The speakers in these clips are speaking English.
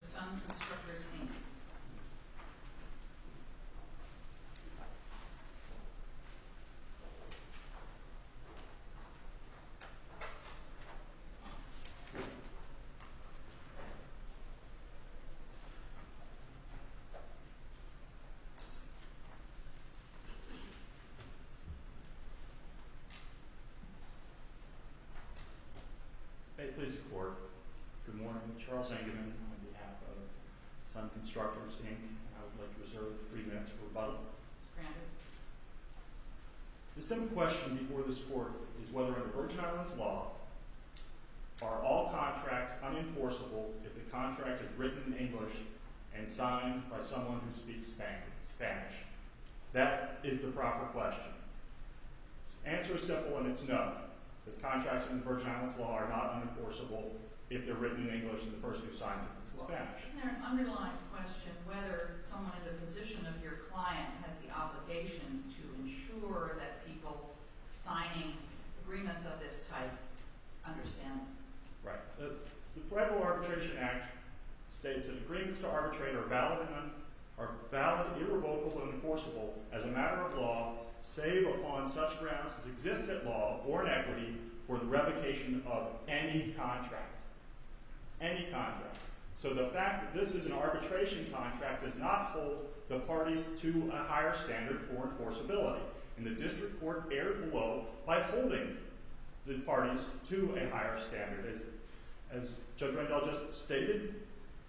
Sun Constructors Inc. May it please the Court, Good morning, Charles Angerman on behalf of Sun Constructors Inc. I would like to reserve three minutes for rebuttal. Granted. The second question before this Court is whether under Virgin Islands law are all contracts unenforceable if the contract is written in English and signed by someone who speaks Spanish. That is the proper question. The answer is simple and it's no. The contracts in Virgin Islands law are not unenforceable if they're written in English and the person who signs them is Spanish. Isn't there an underlying question whether someone in the position of your client has the obligation to ensure that people signing agreements of this type understand? Right. The Federal Arbitration Act states that agreements to arbitrate are valid, irrevocable, and enforceable as a matter of law save upon such grounds as existent law or inequity for the revocation of any contract. Any contract. So the fact that this is an arbitration contract does not hold the parties to a higher standard for enforceability. And the District Court erred below by holding the parties to a higher standard. As Judge Rendell just stated,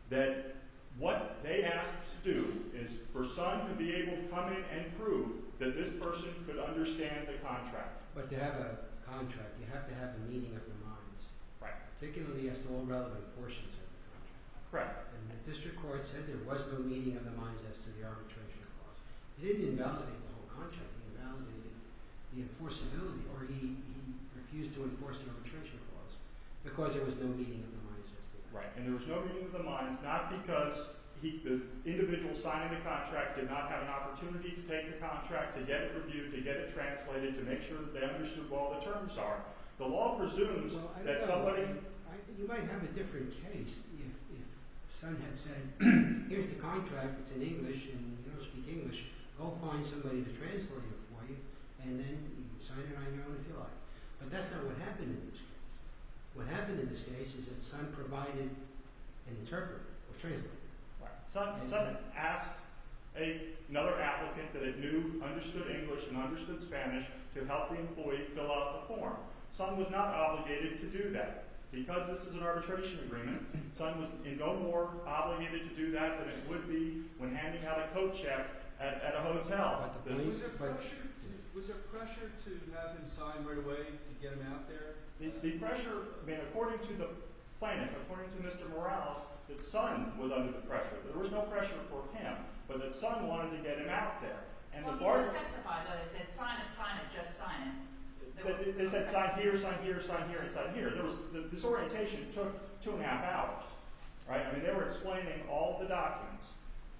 that what they asked to do is for Sun to be able to come in and prove that this person could understand the contract. But to have a contract, you have to have a meeting of the minds. Right. Particularly as to all relevant portions of the contract. Right. And the District Court said there was no meeting of the minds as to the arbitration clause. It didn't invalidate the whole contract. It invalidated the enforceability. Or he refused to enforce the arbitration clause because there was no meeting of the minds as to that. Right. And there was no meeting of the minds, not because the individual signing the contract did not have an opportunity to take the contract, to get it reviewed, to get it translated, to make sure that they understood what all the terms are. The law presumes that somebody... Well, I don't know. You might have a different case if Sun had said, here's the contract. It's in English and you don't speak English. Go find somebody to translate it for you and then sign it on your own if you like. But that's not what happened in this case. What happened in this case is that Sun provided an interpreter or translator. Right. Sun asked another applicant that it knew understood English and understood Spanish to help the employee fill out the form. Sun was not obligated to do that. Because this is an arbitration agreement, Sun was no more obligated to do that than it would be when Andy had a coat check at a hotel. Was there pressure to have him sign right away to get him out there? The pressure... According to the plaintiff, according to Mr. Morales, that Sun was under the pressure. There was no pressure from him, but that Sun wanted to get him out there. He didn't testify, though. He said, sign it, sign it, just sign it. They said, sign here, sign here, sign here, sign here. This orientation took two and a half hours. They were explaining all the documents.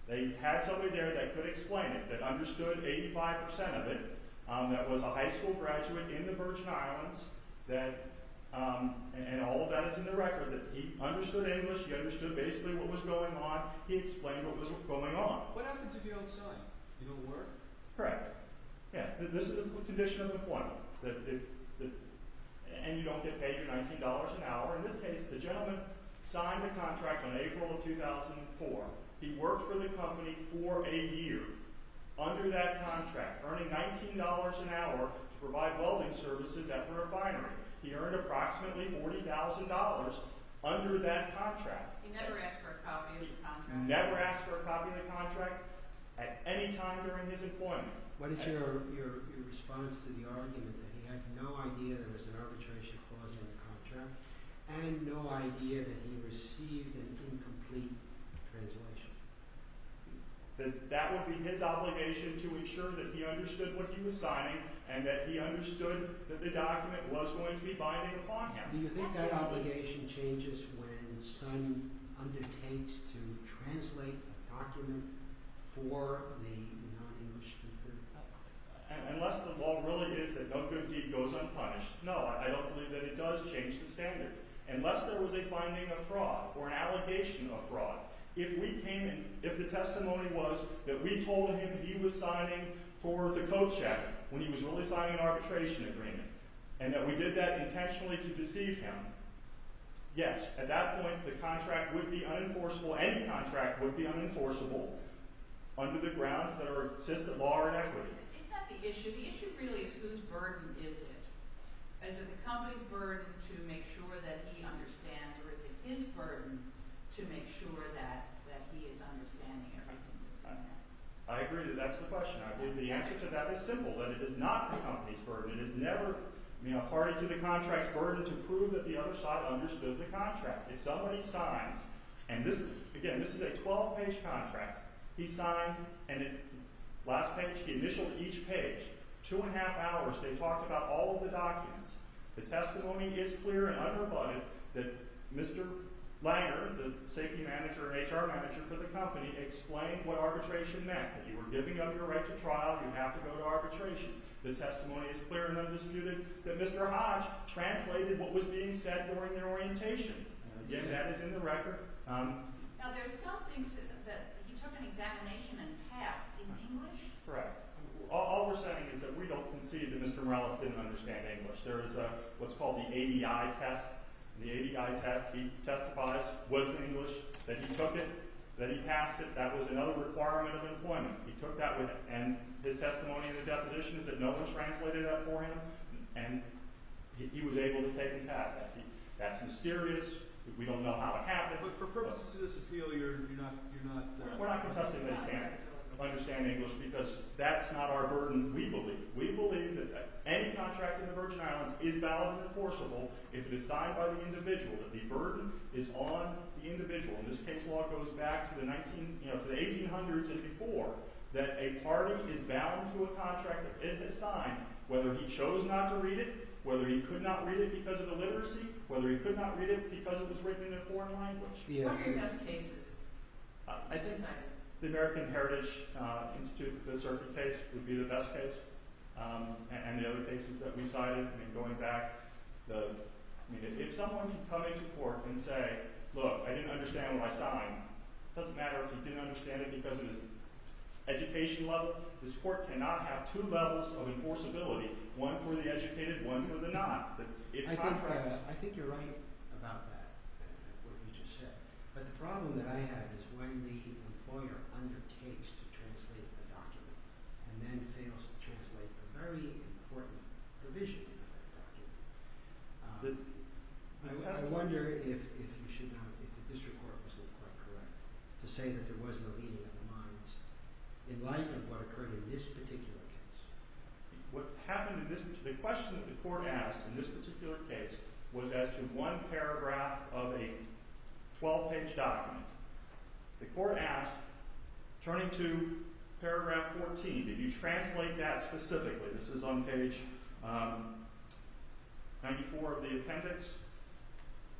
They had somebody there that could explain it, that understood 85% of it, that was a high school graduate in the Virgin Islands, and all of that is in the record, that he understood English, he understood basically what was going on, he explained what was going on. What happens if you don't sign? You don't work? Correct. This is the condition of employment. And you don't get paid your $19 an hour. In this case, the gentleman signed a contract in April of 2004. He worked for the company for a year under that contract, earning $19 an hour to provide welding services at the refinery. He earned approximately $40,000 under that contract. He never asked for a copy of the contract? Never asked for a copy of the contract at any time during his employment. What is your response to the argument that he had no idea there was an arbitration clause in the contract and no idea that he received an incomplete translation? That would be his obligation to ensure that he understood what he was signing and that he understood that the document was going to be binding upon him. Do you think that obligation changes when someone undertakes to translate a document for the non-English speaker? Unless the law really is that no good deed goes unpunished. No, I don't believe that it does change the standard. Unless there was a finding of fraud or an allegation of fraud, if we came in, if the testimony was that we told him that he was signing for the coat check when he was really signing an arbitration agreement and that we did that intentionally to deceive him, yes, at that point the contract would be unenforceable, any contract would be unenforceable under the grounds that are assisted law or equity. Is that the issue? The issue really is whose burden is it? Is it the company's burden to make sure that he understands or is it his burden to make sure that he is understanding everything that's in there? I agree that that's the question. The answer to that is simple, that it is not the company's burden. It is never party to the contract's burden to prove that the other side understood the contract. If somebody signs, and again, this is a 12-page contract, he signed and at the last page, he initialed each page. Two and a half hours, they talked about all of the documents. The testimony is clear and unrebutted that Mr. Langer, the safety manager and HR manager for the company, explained what arbitration meant, that you were giving up your right to trial, you have to go to arbitration. The testimony is clear and undisputed that Mr. Hodge translated what was being said during their orientation. Again, that is in the record. Now, there's something that he took an examination and passed in English? Correct. All we're saying is that we don't concede that Mr. Morales didn't understand English. There is what's called the ADI test. The ADI test, he testifies, was in English, that he took it, that he passed it. That was another requirement of employment. He took that with him. And his testimony in the deposition is that no one translated that for him, and he was able to take and pass that. That's mysterious. We don't know how it happened. But for purposes of this appeal, you're not... We're not contesting that he can't understand English because that's not our burden, we believe. We believe that any contract in the Virgin Islands is valid and enforceable if it is signed by the individual, that the burden is on the individual. And this case law goes back to the 1800s and before, that a party is bound to a contract that it has signed, whether he chose not to read it, whether he could not read it because of illiteracy, whether he could not read it because it was written in a foreign language. What are your best cases? I think the American Heritage Institute, the circuit case, would be the best case. And the other cases that we cited, and going back, if someone can come into court and say, look, I didn't understand what I signed, it doesn't matter if he didn't understand it because of his education level, this court cannot have two levels of enforceability, one for the educated, one for the not. I think you're right about that, what you just said. But the problem that I have is when the employer undertakes to translate a document and then fails to translate a very important provision in that document, I wonder if the district court was quite correct to say that there was no meeting of the minds in light of what occurred in this particular case. The question that the court asked in this particular case was as to one paragraph of a 12-page document. The court asked, turning to paragraph 14, did you translate that specifically? This is on page 94 of the appendix.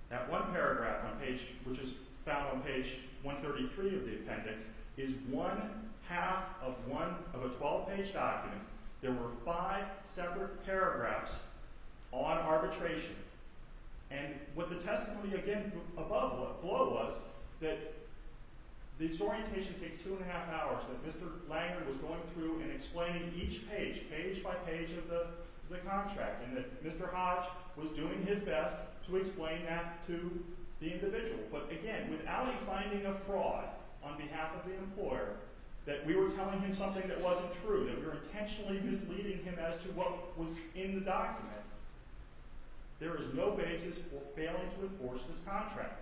That one paragraph, which is found on page 133 of the appendix, is one half of a 12-page document. There were five separate paragraphs on arbitration. What the testimony above was, that this orientation takes two and a half hours, that Mr. Langer was going through and explaining each page, page by page of the contract, and that Mr. Hodge was doing his best to explain that to the individual. But again, without him finding a fraud on behalf of the employer that we were telling him something that wasn't true, that we were intentionally misleading him as to what was in the document, there is no basis for failing to enforce this contract.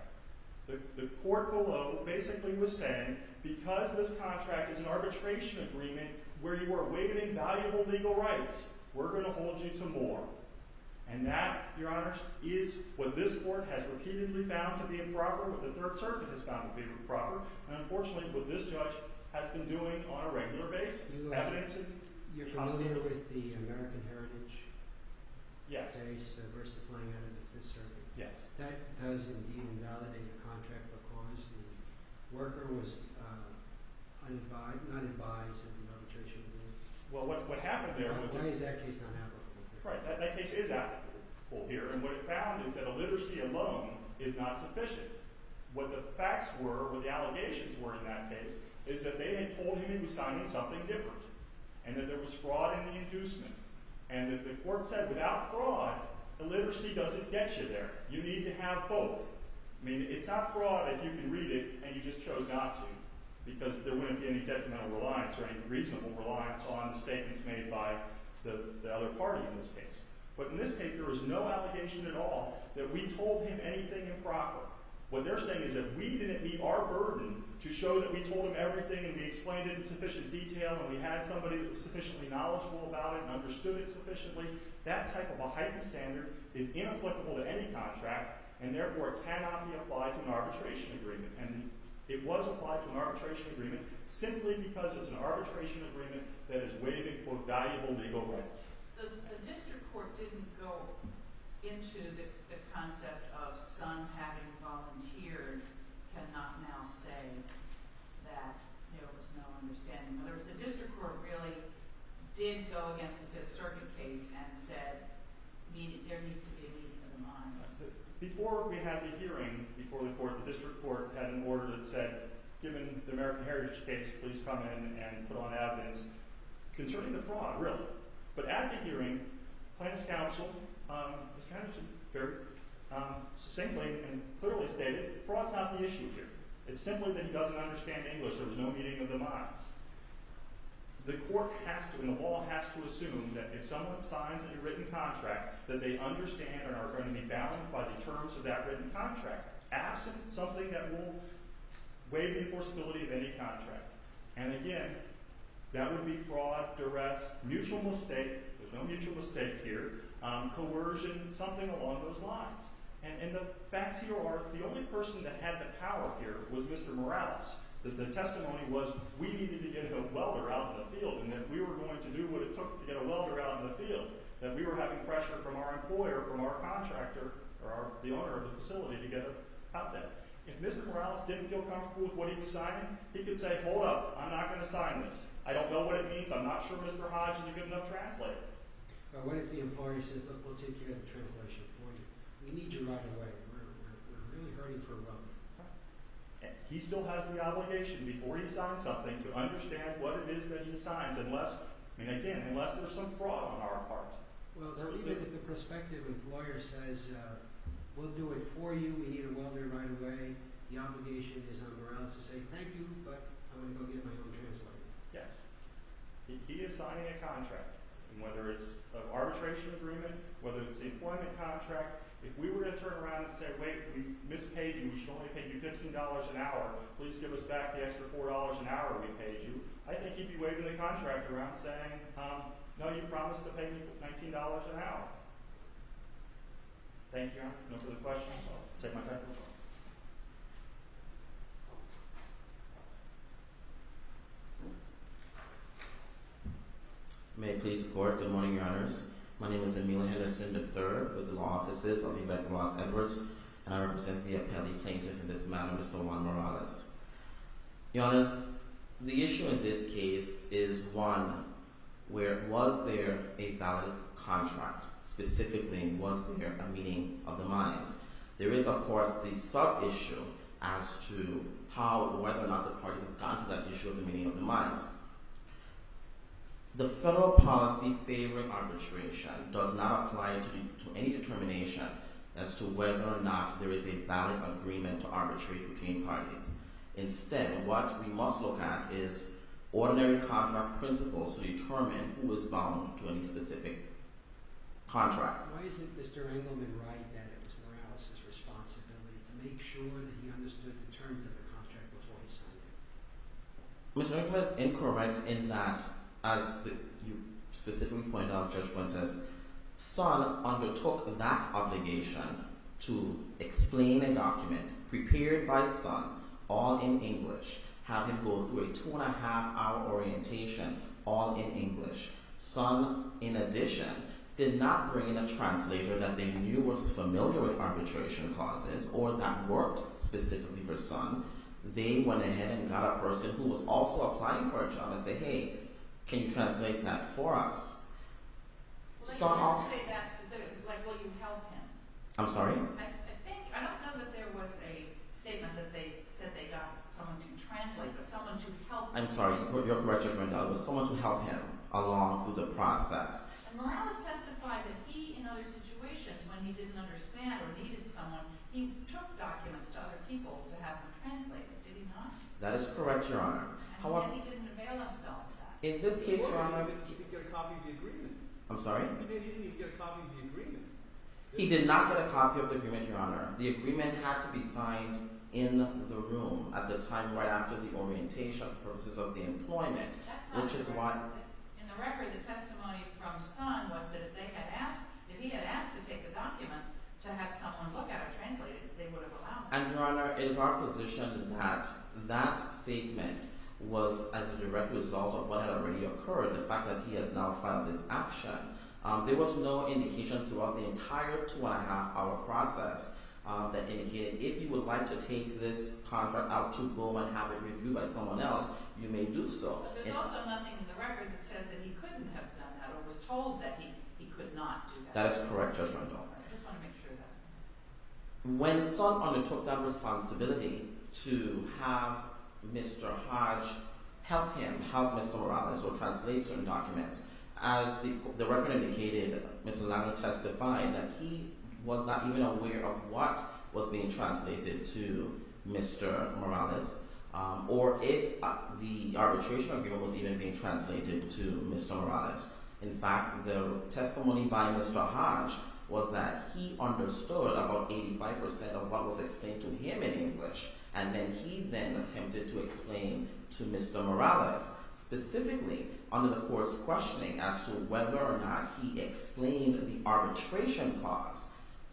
The court below basically was saying, because this contract is an arbitration agreement where you are waiving invaluable legal rights, we're going to hold you to more. And that, Your Honors, is what this court has repeatedly found to be improper, what the Third Circuit has found to be improper, and unfortunately what this judge has been doing on a regular basis. You're familiar with the American Heritage case versus Langer and the Fifth Circuit? Yes. That does indeed invalidate a contract because the worker was unadvised in the arbitration. Well, what happened there was... Why is that case not applicable? That case is applicable here, and what it found is that the literacy alone is not sufficient. What the facts were, what the allegations were in that case, is that they had told him he was signing something different and that there was fraud in the inducement and that the court said without fraud, the literacy doesn't get you there. You need to have both. I mean, it's not fraud if you can read it and you just chose not to because there wouldn't be any detrimental reliance or any reasonable reliance on the statements made by the other party in this case. But in this case, there was no allegation at all that we told him anything improper. What they're saying is that we didn't meet our burden to show that we told him everything and we explained it in sufficient detail and we had somebody who was sufficiently knowledgeable about it and understood it sufficiently. That type of a heightened standard is inapplicable to any contract and therefore cannot be applied to an arbitration agreement. And it was applied to an arbitration agreement simply because it was an arbitration agreement that is waiving, quote, valuable legal rights. The district court didn't go into the concept of having volunteered cannot now say that there was no understanding. In other words, the district court really did go against the Fifth Circuit case and said there needs to be a meeting of the minds. Before we had the hearing, before the court, the district court had an order that said given the American Heritage case, please come in and put on evidence concerning the fraud, really. But at the hearing, the plaintiff's counsel was kind of very succinctly and clearly stated fraud's not the issue here. It's simply that he doesn't understand English. There was no meeting of the minds. The court has to and the law has to assume that if someone signs a written contract that they understand and are going to be bound by the terms of that written contract absent something that will waive the enforceability of any contract. And again, that would be fraud, duress, mutual mistake, there's no mutual mistake here, coercion, something along those lines. And the facts here are the only person that had the power here was Mr. Morales. The testimony was we needed to get a welder out in the field and that we were going to do what it took to get a welder out in the field, that we were having pressure from our employer, from our contractor or the owner of the facility to get out there. If Mr. Morales didn't feel comfortable with what he was signing, he could say hold up, I'm not going to sign this. I don't know what it means. I'm not sure Mr. Hodge is a good enough translator. What if the employer says look, we'll take care of the translation for you. We need you right away. We're really hurting for a welder. He still has the obligation before he signs something to understand what it is that he signs unless there's some fraud on our part. Even if the prospective employer says we'll do it for you, we need a welder right away, the obligation is on Morales to say thank you but I'm going to go get my own translator. Yes. If he is signing a contract, whether it's an arbitration agreement, whether it's an employment contract, if we were to turn around and say wait, we mispaid you. We should only pay you $15 an hour. Please give us back the extra $4 an hour we paid you. I think he'd be waving the contractor around saying no, you promised to pay me $19 an hour. Thank you. No further questions? Take my mic. May it please the Court. Good morning, Your Honors. My name is Emilio Henderson III with the Law Offices of Yvette Ross Edwards and I represent the appellee plaintiff in this matter, Mr. Juan Morales. Your Honors, the issue in this case is one where was there a valid contract? Specifically, was there a meeting of the minds? There is, of course, the sub-issue as to how or whether or not the parties have gone to that issue of the meeting of the minds. The federal policy favoring arbitration does not apply to any determination as to whether or not there is a valid agreement to arbitrate between parties. Instead, what we must look at is ordinary contract principles to determine who is bound to any specific contract. Why isn't Mr. Engleman right that it was Morales' responsibility to make sure that he understood the terms of the contract before he signed it? Mr. Engleman is incorrect in that, as you specifically pointed out, Judge Prentiss, Sun undertook that obligation to explain a document prepared by Sun, all in English, have him go through a two-and-a-half-hour orientation all in English. Sun, in addition, did not bring in a translator that they knew was familiar with arbitration clauses or that worked specifically for Sun. They went ahead and got a person who was also applying for a job and said, hey, can you translate that for us? Well, they didn't say that specifically. It's like, will you help him? I'm sorry? I don't know that there was a statement that they said they got someone to translate, but someone to help him. I'm sorry, you're correct, Judge Prentiss. It was someone to help him along through the process. And Morales testified that he, in other situations, when he didn't understand or needed someone, he took documents to other people to have them translated. Did he not? That is correct, Your Honor. And yet he didn't avail himself of that. In this case, Your Honor... He didn't even get a copy of the agreement. I'm sorry? He didn't even get a copy of the agreement. He did not get a copy of the agreement, Your Honor. The agreement had to be signed in the room at the time right after the orientation for purposes of the employment, which is why... That's not correct. In the record, the testimony from Sun was that if he had asked to take the document to have someone look at it, translate it, they would have allowed that. And, Your Honor, it is our position that that statement was as a direct result of what had already occurred, the fact that he has now filed this action. There was no indication throughout the entire two-and-a-half-hour process that indicated if he would like to take this contract out to go and have it reviewed by someone else, you may do so. But there's also nothing in the record that says that he couldn't have done that or was told that he could not do that. That is correct, Judge Randolph. I just want to make sure of that. When Sun undertook that responsibility to have Mr. Hodge help him, help Mr. Morales, or translate certain documents, as the record indicated, Mr. Lanier testified, that he was not even aware of what was being translated to Mr. Morales or if the arbitration agreement was even being translated to Mr. Morales. In fact, the testimony by Mr. Hodge was that he understood about 85% of what was explained to him in English, and then he then attempted to explain to Mr. Morales, specifically under the court's questioning as to whether or not he explained the arbitration clause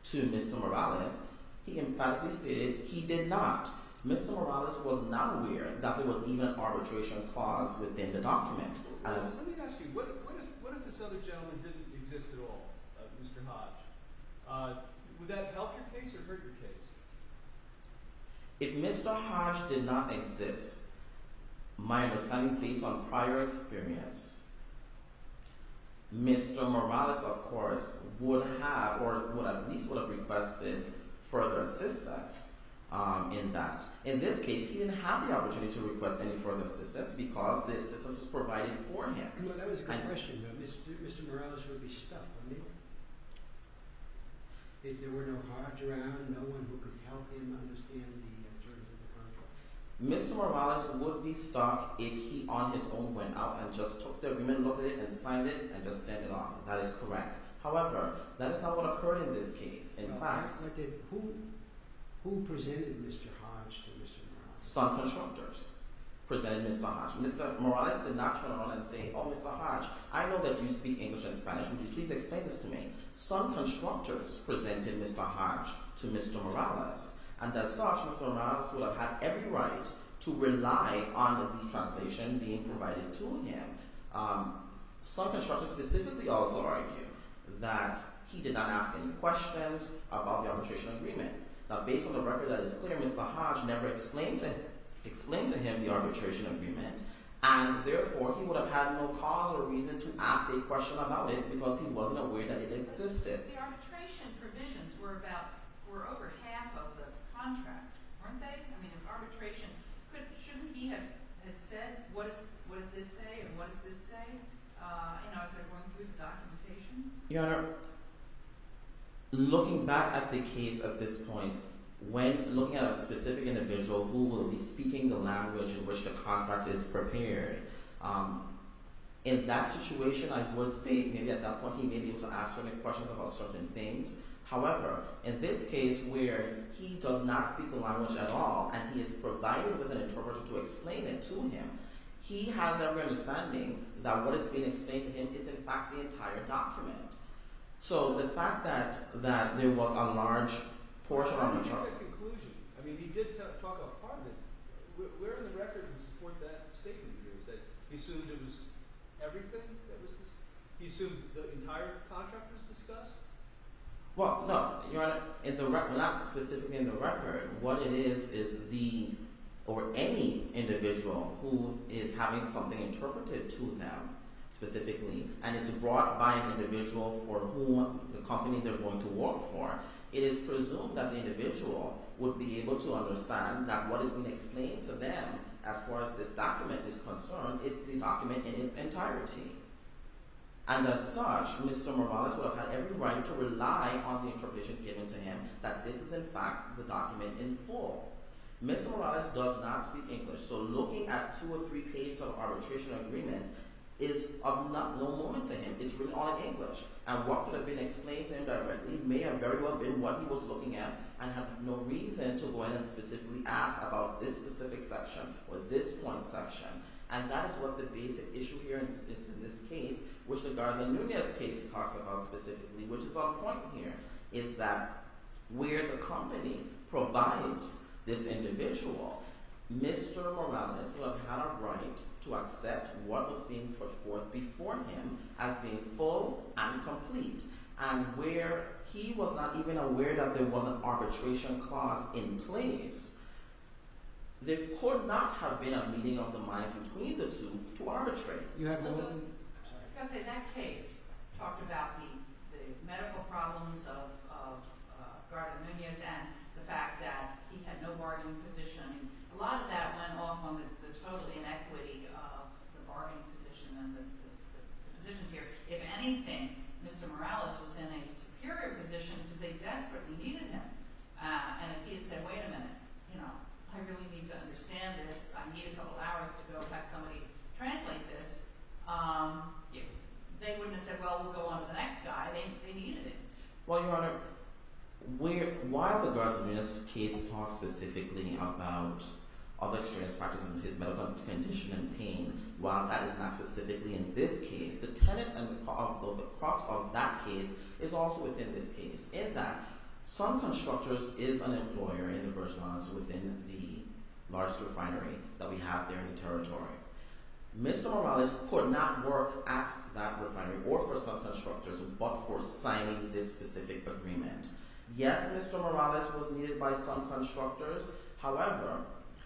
to Mr. Morales, he emphatically stated he did not. Mr. Morales was not aware that there was even an arbitration clause within the document. Let me ask you, what if this other gentleman didn't exist at all, Mr. Hodge? Would that help your case or hurt your case? If Mr. Hodge did not exist, my understanding based on prior experience, Mr. Morales, of course, would have, or at least would have requested further assistance in that. In this case, he didn't have the opportunity to request any further assistance because the assistance was provided for him. Well, that was a good question, though. Mr. Morales would be stuck, wouldn't he? If there were no Hodge around, no one who could help him understand the terms of the contract. Mr. Morales would be stuck if he on his own went out and just took the agreement, looked at it, and signed it, and just sent it off. That is correct. However, that is not what occurred in this case. In fact... Who presented Mr. Hodge to Mr. Morales? Some constructors presented Mr. Hodge. Mr. Morales did not turn around and say, oh, Mr. Hodge, I know that you speak English and Spanish. Would you please explain this to me? Some constructors presented Mr. Hodge to Mr. Morales, and as such, Mr. Morales would have had every right to rely on the B translation being provided to him. Some constructors specifically also argue that he did not ask any questions about the arbitration agreement. Now, based on the record that is clear, Mr. Hodge never explained to him the arbitration agreement, and therefore, he would have had no cause or reason to ask a question about it because he wasn't aware that it existed. The arbitration provisions were about... were over half of the contract, weren't they? I mean, if arbitration... shouldn't he have said, what does this say, and what does this say? You know, is there going to be documentation? Your Honor, looking back at the case at this point, when looking at a specific individual who will be speaking the language in which the contract is prepared, in that situation, I would say maybe at that point, he may be able to ask certain questions about certain things. However, in this case, where he does not speak the language at all, and he is provided with an interpreter to explain it to him, he has every understanding that what is being explained to him is in fact the entire document. So, the fact that there was a large portion of the charge... But what about the conclusion? I mean, he did talk a part of it. Where in the record is the point that statement is? He assumed it was everything? He assumed the entire contract was discussed? Well, no. Your Honor, not specifically in the record. What it is, is the... or any individual who is having something interpreted to them, specifically, and it's brought by an individual for whom the company they're going to work for, it is presumed that the individual would be able to understand that what is being explained to them as far as this document is concerned is the document in its entirety. And as such, Mr. Morales would have had every right to rely on the interpretation given to him that this is in fact the document in full. Mr. Morales does not speak English, so looking at two or three pages of arbitration agreement is of no moment to him. It's written all in English. And what could have been explained to him directly may have very well been what he was looking at and have no reason to go in and specifically ask about this specific section or this point section. And that is what the basic issue here is in this case, which the Garza-Nunez case talks about specifically, which is our point here, is that where the company provides this individual, Mr. Morales would have had a right to accept what was being pushed forth before him as being full and complete. And where he was not even aware that there was an arbitration clause in place, there could not have been a meeting of the minds between the two to arbitrate. Because in that case, talked about the medical problems of Garza-Nunez and the fact that he had no bargaining position and a lot of that went off on the total inequity of the bargaining position and the positions here. If anything, Mr. Morales was in a superior position because they desperately needed him. And if he had said, wait a minute, I really need to understand this, I need a couple of hours to go have somebody translate this, they wouldn't have said, well, we'll go on to the next guy. They needed him. Well, Your Honor, why have the Garza-Nunez case talk specifically about other experience practices with his medical condition and pain while that is not specifically in this case? The tenant, although the crux of that case, is also within this case. In that, some constructors is an employer in the Virgin Islands within the large refinery that we have there in the territory. Mr. Morales could not work at that refinery or for some constructors, but for signing this specific agreement. Yes, Mr. Morales was needed by some constructors. However,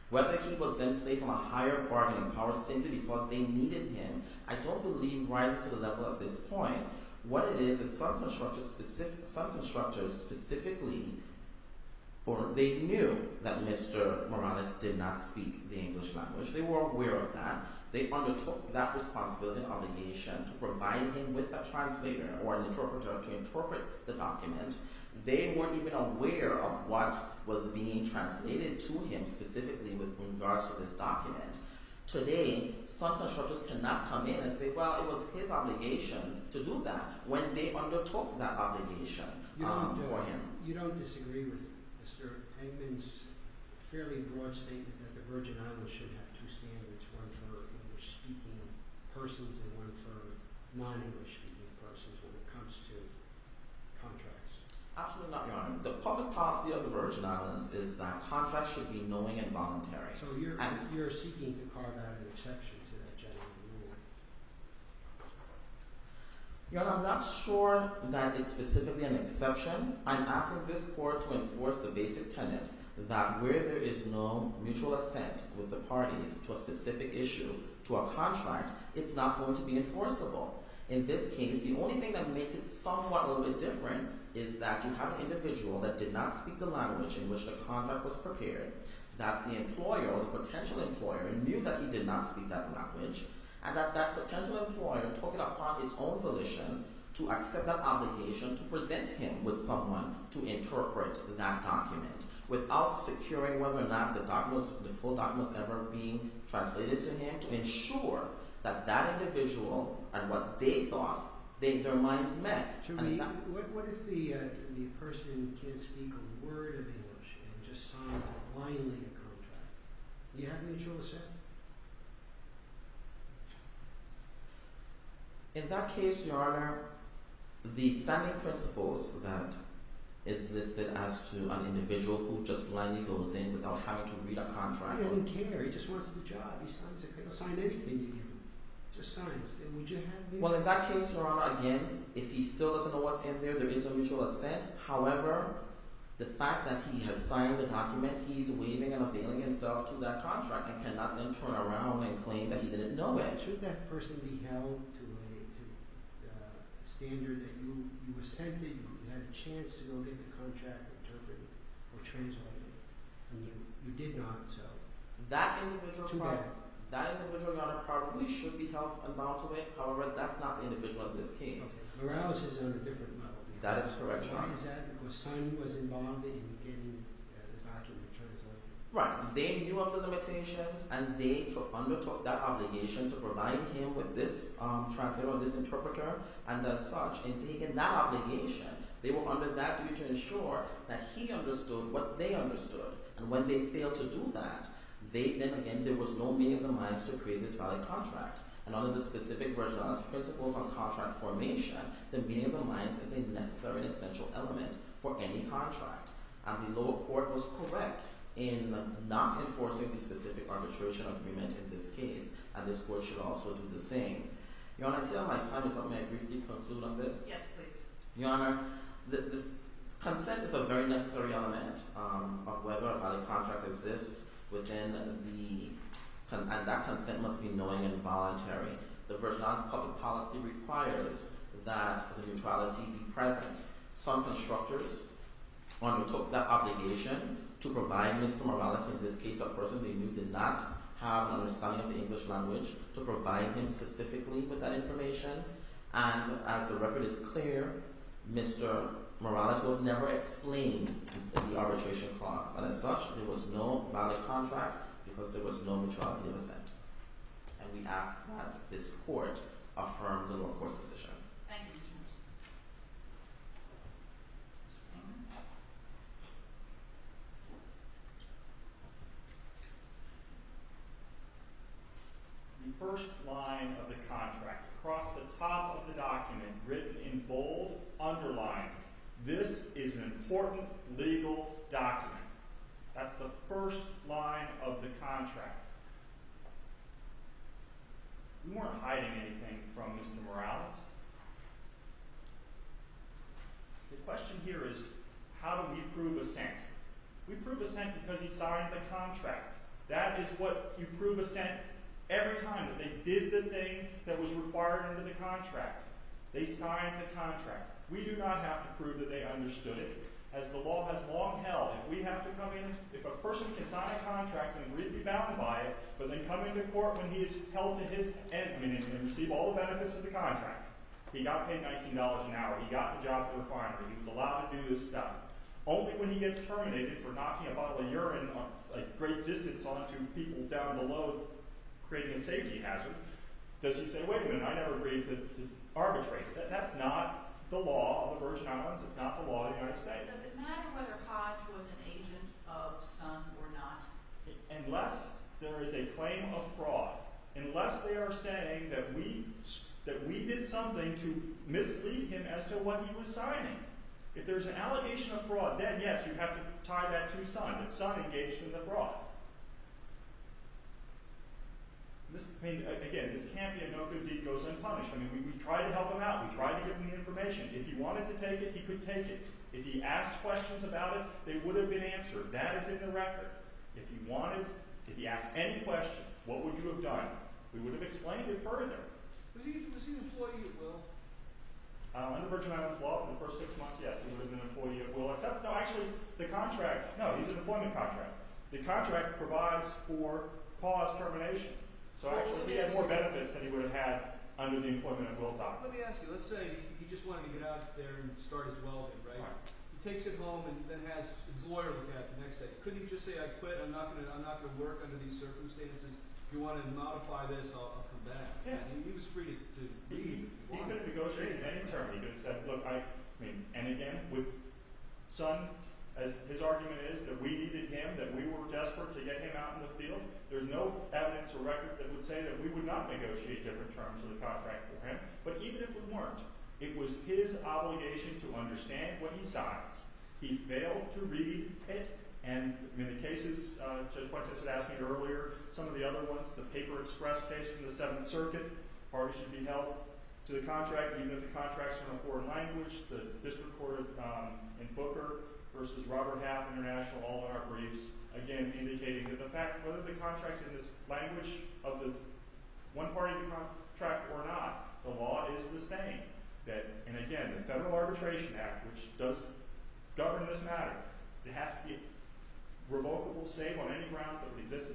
whether he was then placed on a higher bargaining power simply because they needed him, I don't believe rises to the level at this point. What it is is some constructors specifically, or they knew that Mr. Morales did not speak the English language. They were aware of that. They undertook that responsibility and obligation to provide him with a translator or an interpreter to interpret the documents They weren't even aware of what was being translated to him specifically with regards to this document. Today, some constructors cannot come in and say, well, it was his obligation to do that when they undertook that obligation for him. You don't disagree with Mr. Engman's fairly broad statement that the Virgin Islands should have two standards, one for English-speaking persons and one for non-English-speaking persons when it comes to contracts? Absolutely not, Your Honor. The public policy of the Virgin Islands is that contracts should be knowing and voluntary. So you're seeking to carve out an exception to that general rule? Your Honor, I'm not sure that it's specifically an exception. I'm asking this court to enforce the basic tenet that where there is no mutual assent with the parties to a specific issue to a contract, it's not going to be enforceable. In this case, the only thing that makes it somewhat a little bit different is that you have an individual that did not speak the language in which the contract was prepared, that the employer or the potential employer knew that he did not speak that language, and that that potential employer took it upon its own volition to accept that obligation to present him with someone without securing whether or not the full document was ever being translated to him to ensure that that individual and what they thought their minds met. What if the person can't speak a word of English and just signs blindly a contract? Do you have mutual assent? In that case, Your Honor, the standing principles that is listed as to an individual who just blindly goes in without having to read a contract... He doesn't care. He just wants the job. He signs it. He'll sign anything you give him. Just signs. Well, in that case, Your Honor, again, if he still doesn't know what's in there, there is no mutual assent. However, the fact that he has signed the document, he's waiving and availing himself to that contract and cannot then turn around and claim that he didn't know it. Should that person be held to a standard that you assented, you had a chance to go get the contract interpreted or translated, and you did not, so... That individual... Too bad. He probably should be held unbound to it. However, that's not the individual in this case. That is correct, Your Honor. Right. They knew of the limitations and they undertook that obligation to provide him with this translator or this interpreter and as such, in taking that obligation, they were under that duty to ensure that he understood what they understood. And when they failed to do that, then again, there was no meaning in their minds to create this valid contract. And under the specific virginality principles on contract formation, the meaning of the lines is a necessary and essential element for any contract. And the lower court was correct in not enforcing the specific arbitration agreement in this case, and this court should also do the same. Your Honor, I see I'm out of time, so may I briefly conclude on this? Yes, please. Your Honor, consent is a very necessary element of whether a valid contract exists within the... and that consent must be knowing and voluntary. The virginality public policy requires that the neutrality be present. Some constructors undertook that obligation to provide Mr. Morales, in this case, a person they knew did not have an understanding of the English language, to provide him specifically with that information. And as the record is clear, Mr. Morales was never explained in the arbitration clause. And as such, there was no valid contract because there was no neutrality of assent. And we ask that this court affirm the lower court's decision. Thank you, Mr. Morales. The first line of the contract, across the top of the document, written in bold, underlined, this is an important legal document. That's the first line of the contract. We weren't hiding anything from Mr. Morales. The question here is, how do we prove assent? We prove assent because he signed the contract. That is what you prove assent every time that they did the thing that was required under the contract. They signed the contract. We do not have to prove that they understood it. As the law has long held, if we have to come in, if a person can sign a contract and be bound by it, but then come into court when he's held to his end, meaning he can receive all the benefits of the contract, he got paid $19 an hour, he got the job at the refinery, he was allowed to do this stuff, only when he gets terminated for knocking a bottle of urine a great distance onto people down below, creating a safety hazard, does he say, wait a minute, I never agreed to arbitrate. That's not the law of the Virgin Islands. It's not the law of the United States. Does it matter whether Hodge was an agent of Sun or not? Unless there is a claim of fraud. Unless they are saying that we did something to mislead him as to what he was signing. If there's an allegation of fraud, then yes, you have to tie that to Sun, that Sun engaged in the fraud. Again, this can't be a no good deed goes unpunished. We try to help him out. We try to give him the information. If he wanted to take it, he could take it. If he asked questions about it, they would have been answered. That is in the record. If he wanted, if he asked any questions, what would you have done? We would have explained it further. Was he an employee at Will? Under Virgin Islands law, for the first six months, yes, he would have been an employee at Will. Except, no, actually, the contract, no, he's an employment contractor. The contract provides for pause termination. So actually, he had more benefits than he would have had under the employment at Will contract. Let me ask you, let's say he just wanted to get out there and start his welding, right? He takes it home and then has his lawyer look at it the next day. Couldn't he just say, I quit. I'm not going to work under these circumstances. If you want to modify this, I'll come back. He was free to leave. He could have negotiated any term. He could have said, look, I mean, and again, with Sun, his argument is that we needed him, that we were desperate to get him out in the field. There's no evidence or record that would say that we would not negotiate different terms of the contract for him. But even if we weren't, it was his obligation to understand what he signs. He failed to read it. And in the cases Judge Fuentes had asked me earlier, some of the other ones, the paper express case from the Seventh Circuit, parties should be held to the contract, even if the contract's in a foreign language. The district court in Booker versus Robert Happ International, all in our briefs, again, indicating that the fact, whether the contract's in this language of the one party contract or not, the law is the same. And again, the Federal Arbitration Act, which governs this matter, it has to be revocable, same on any grounds that would exist,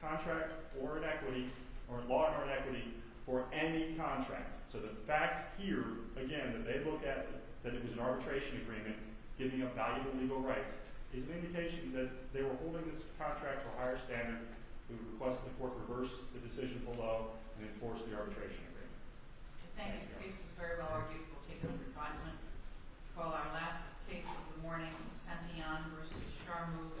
contract or in equity, or in law or in equity, for any contract. So the fact here, again, that they look at that it was an arbitration agreement giving up value of legal rights is an indication that they were holding this contract to a higher standard. We would request that the court reverse the decision below and enforce the arbitration agreement. I think the case is very well argued. We'll take it for advisement. We'll call our last case of the morning, Centillon versus Charmoux et al.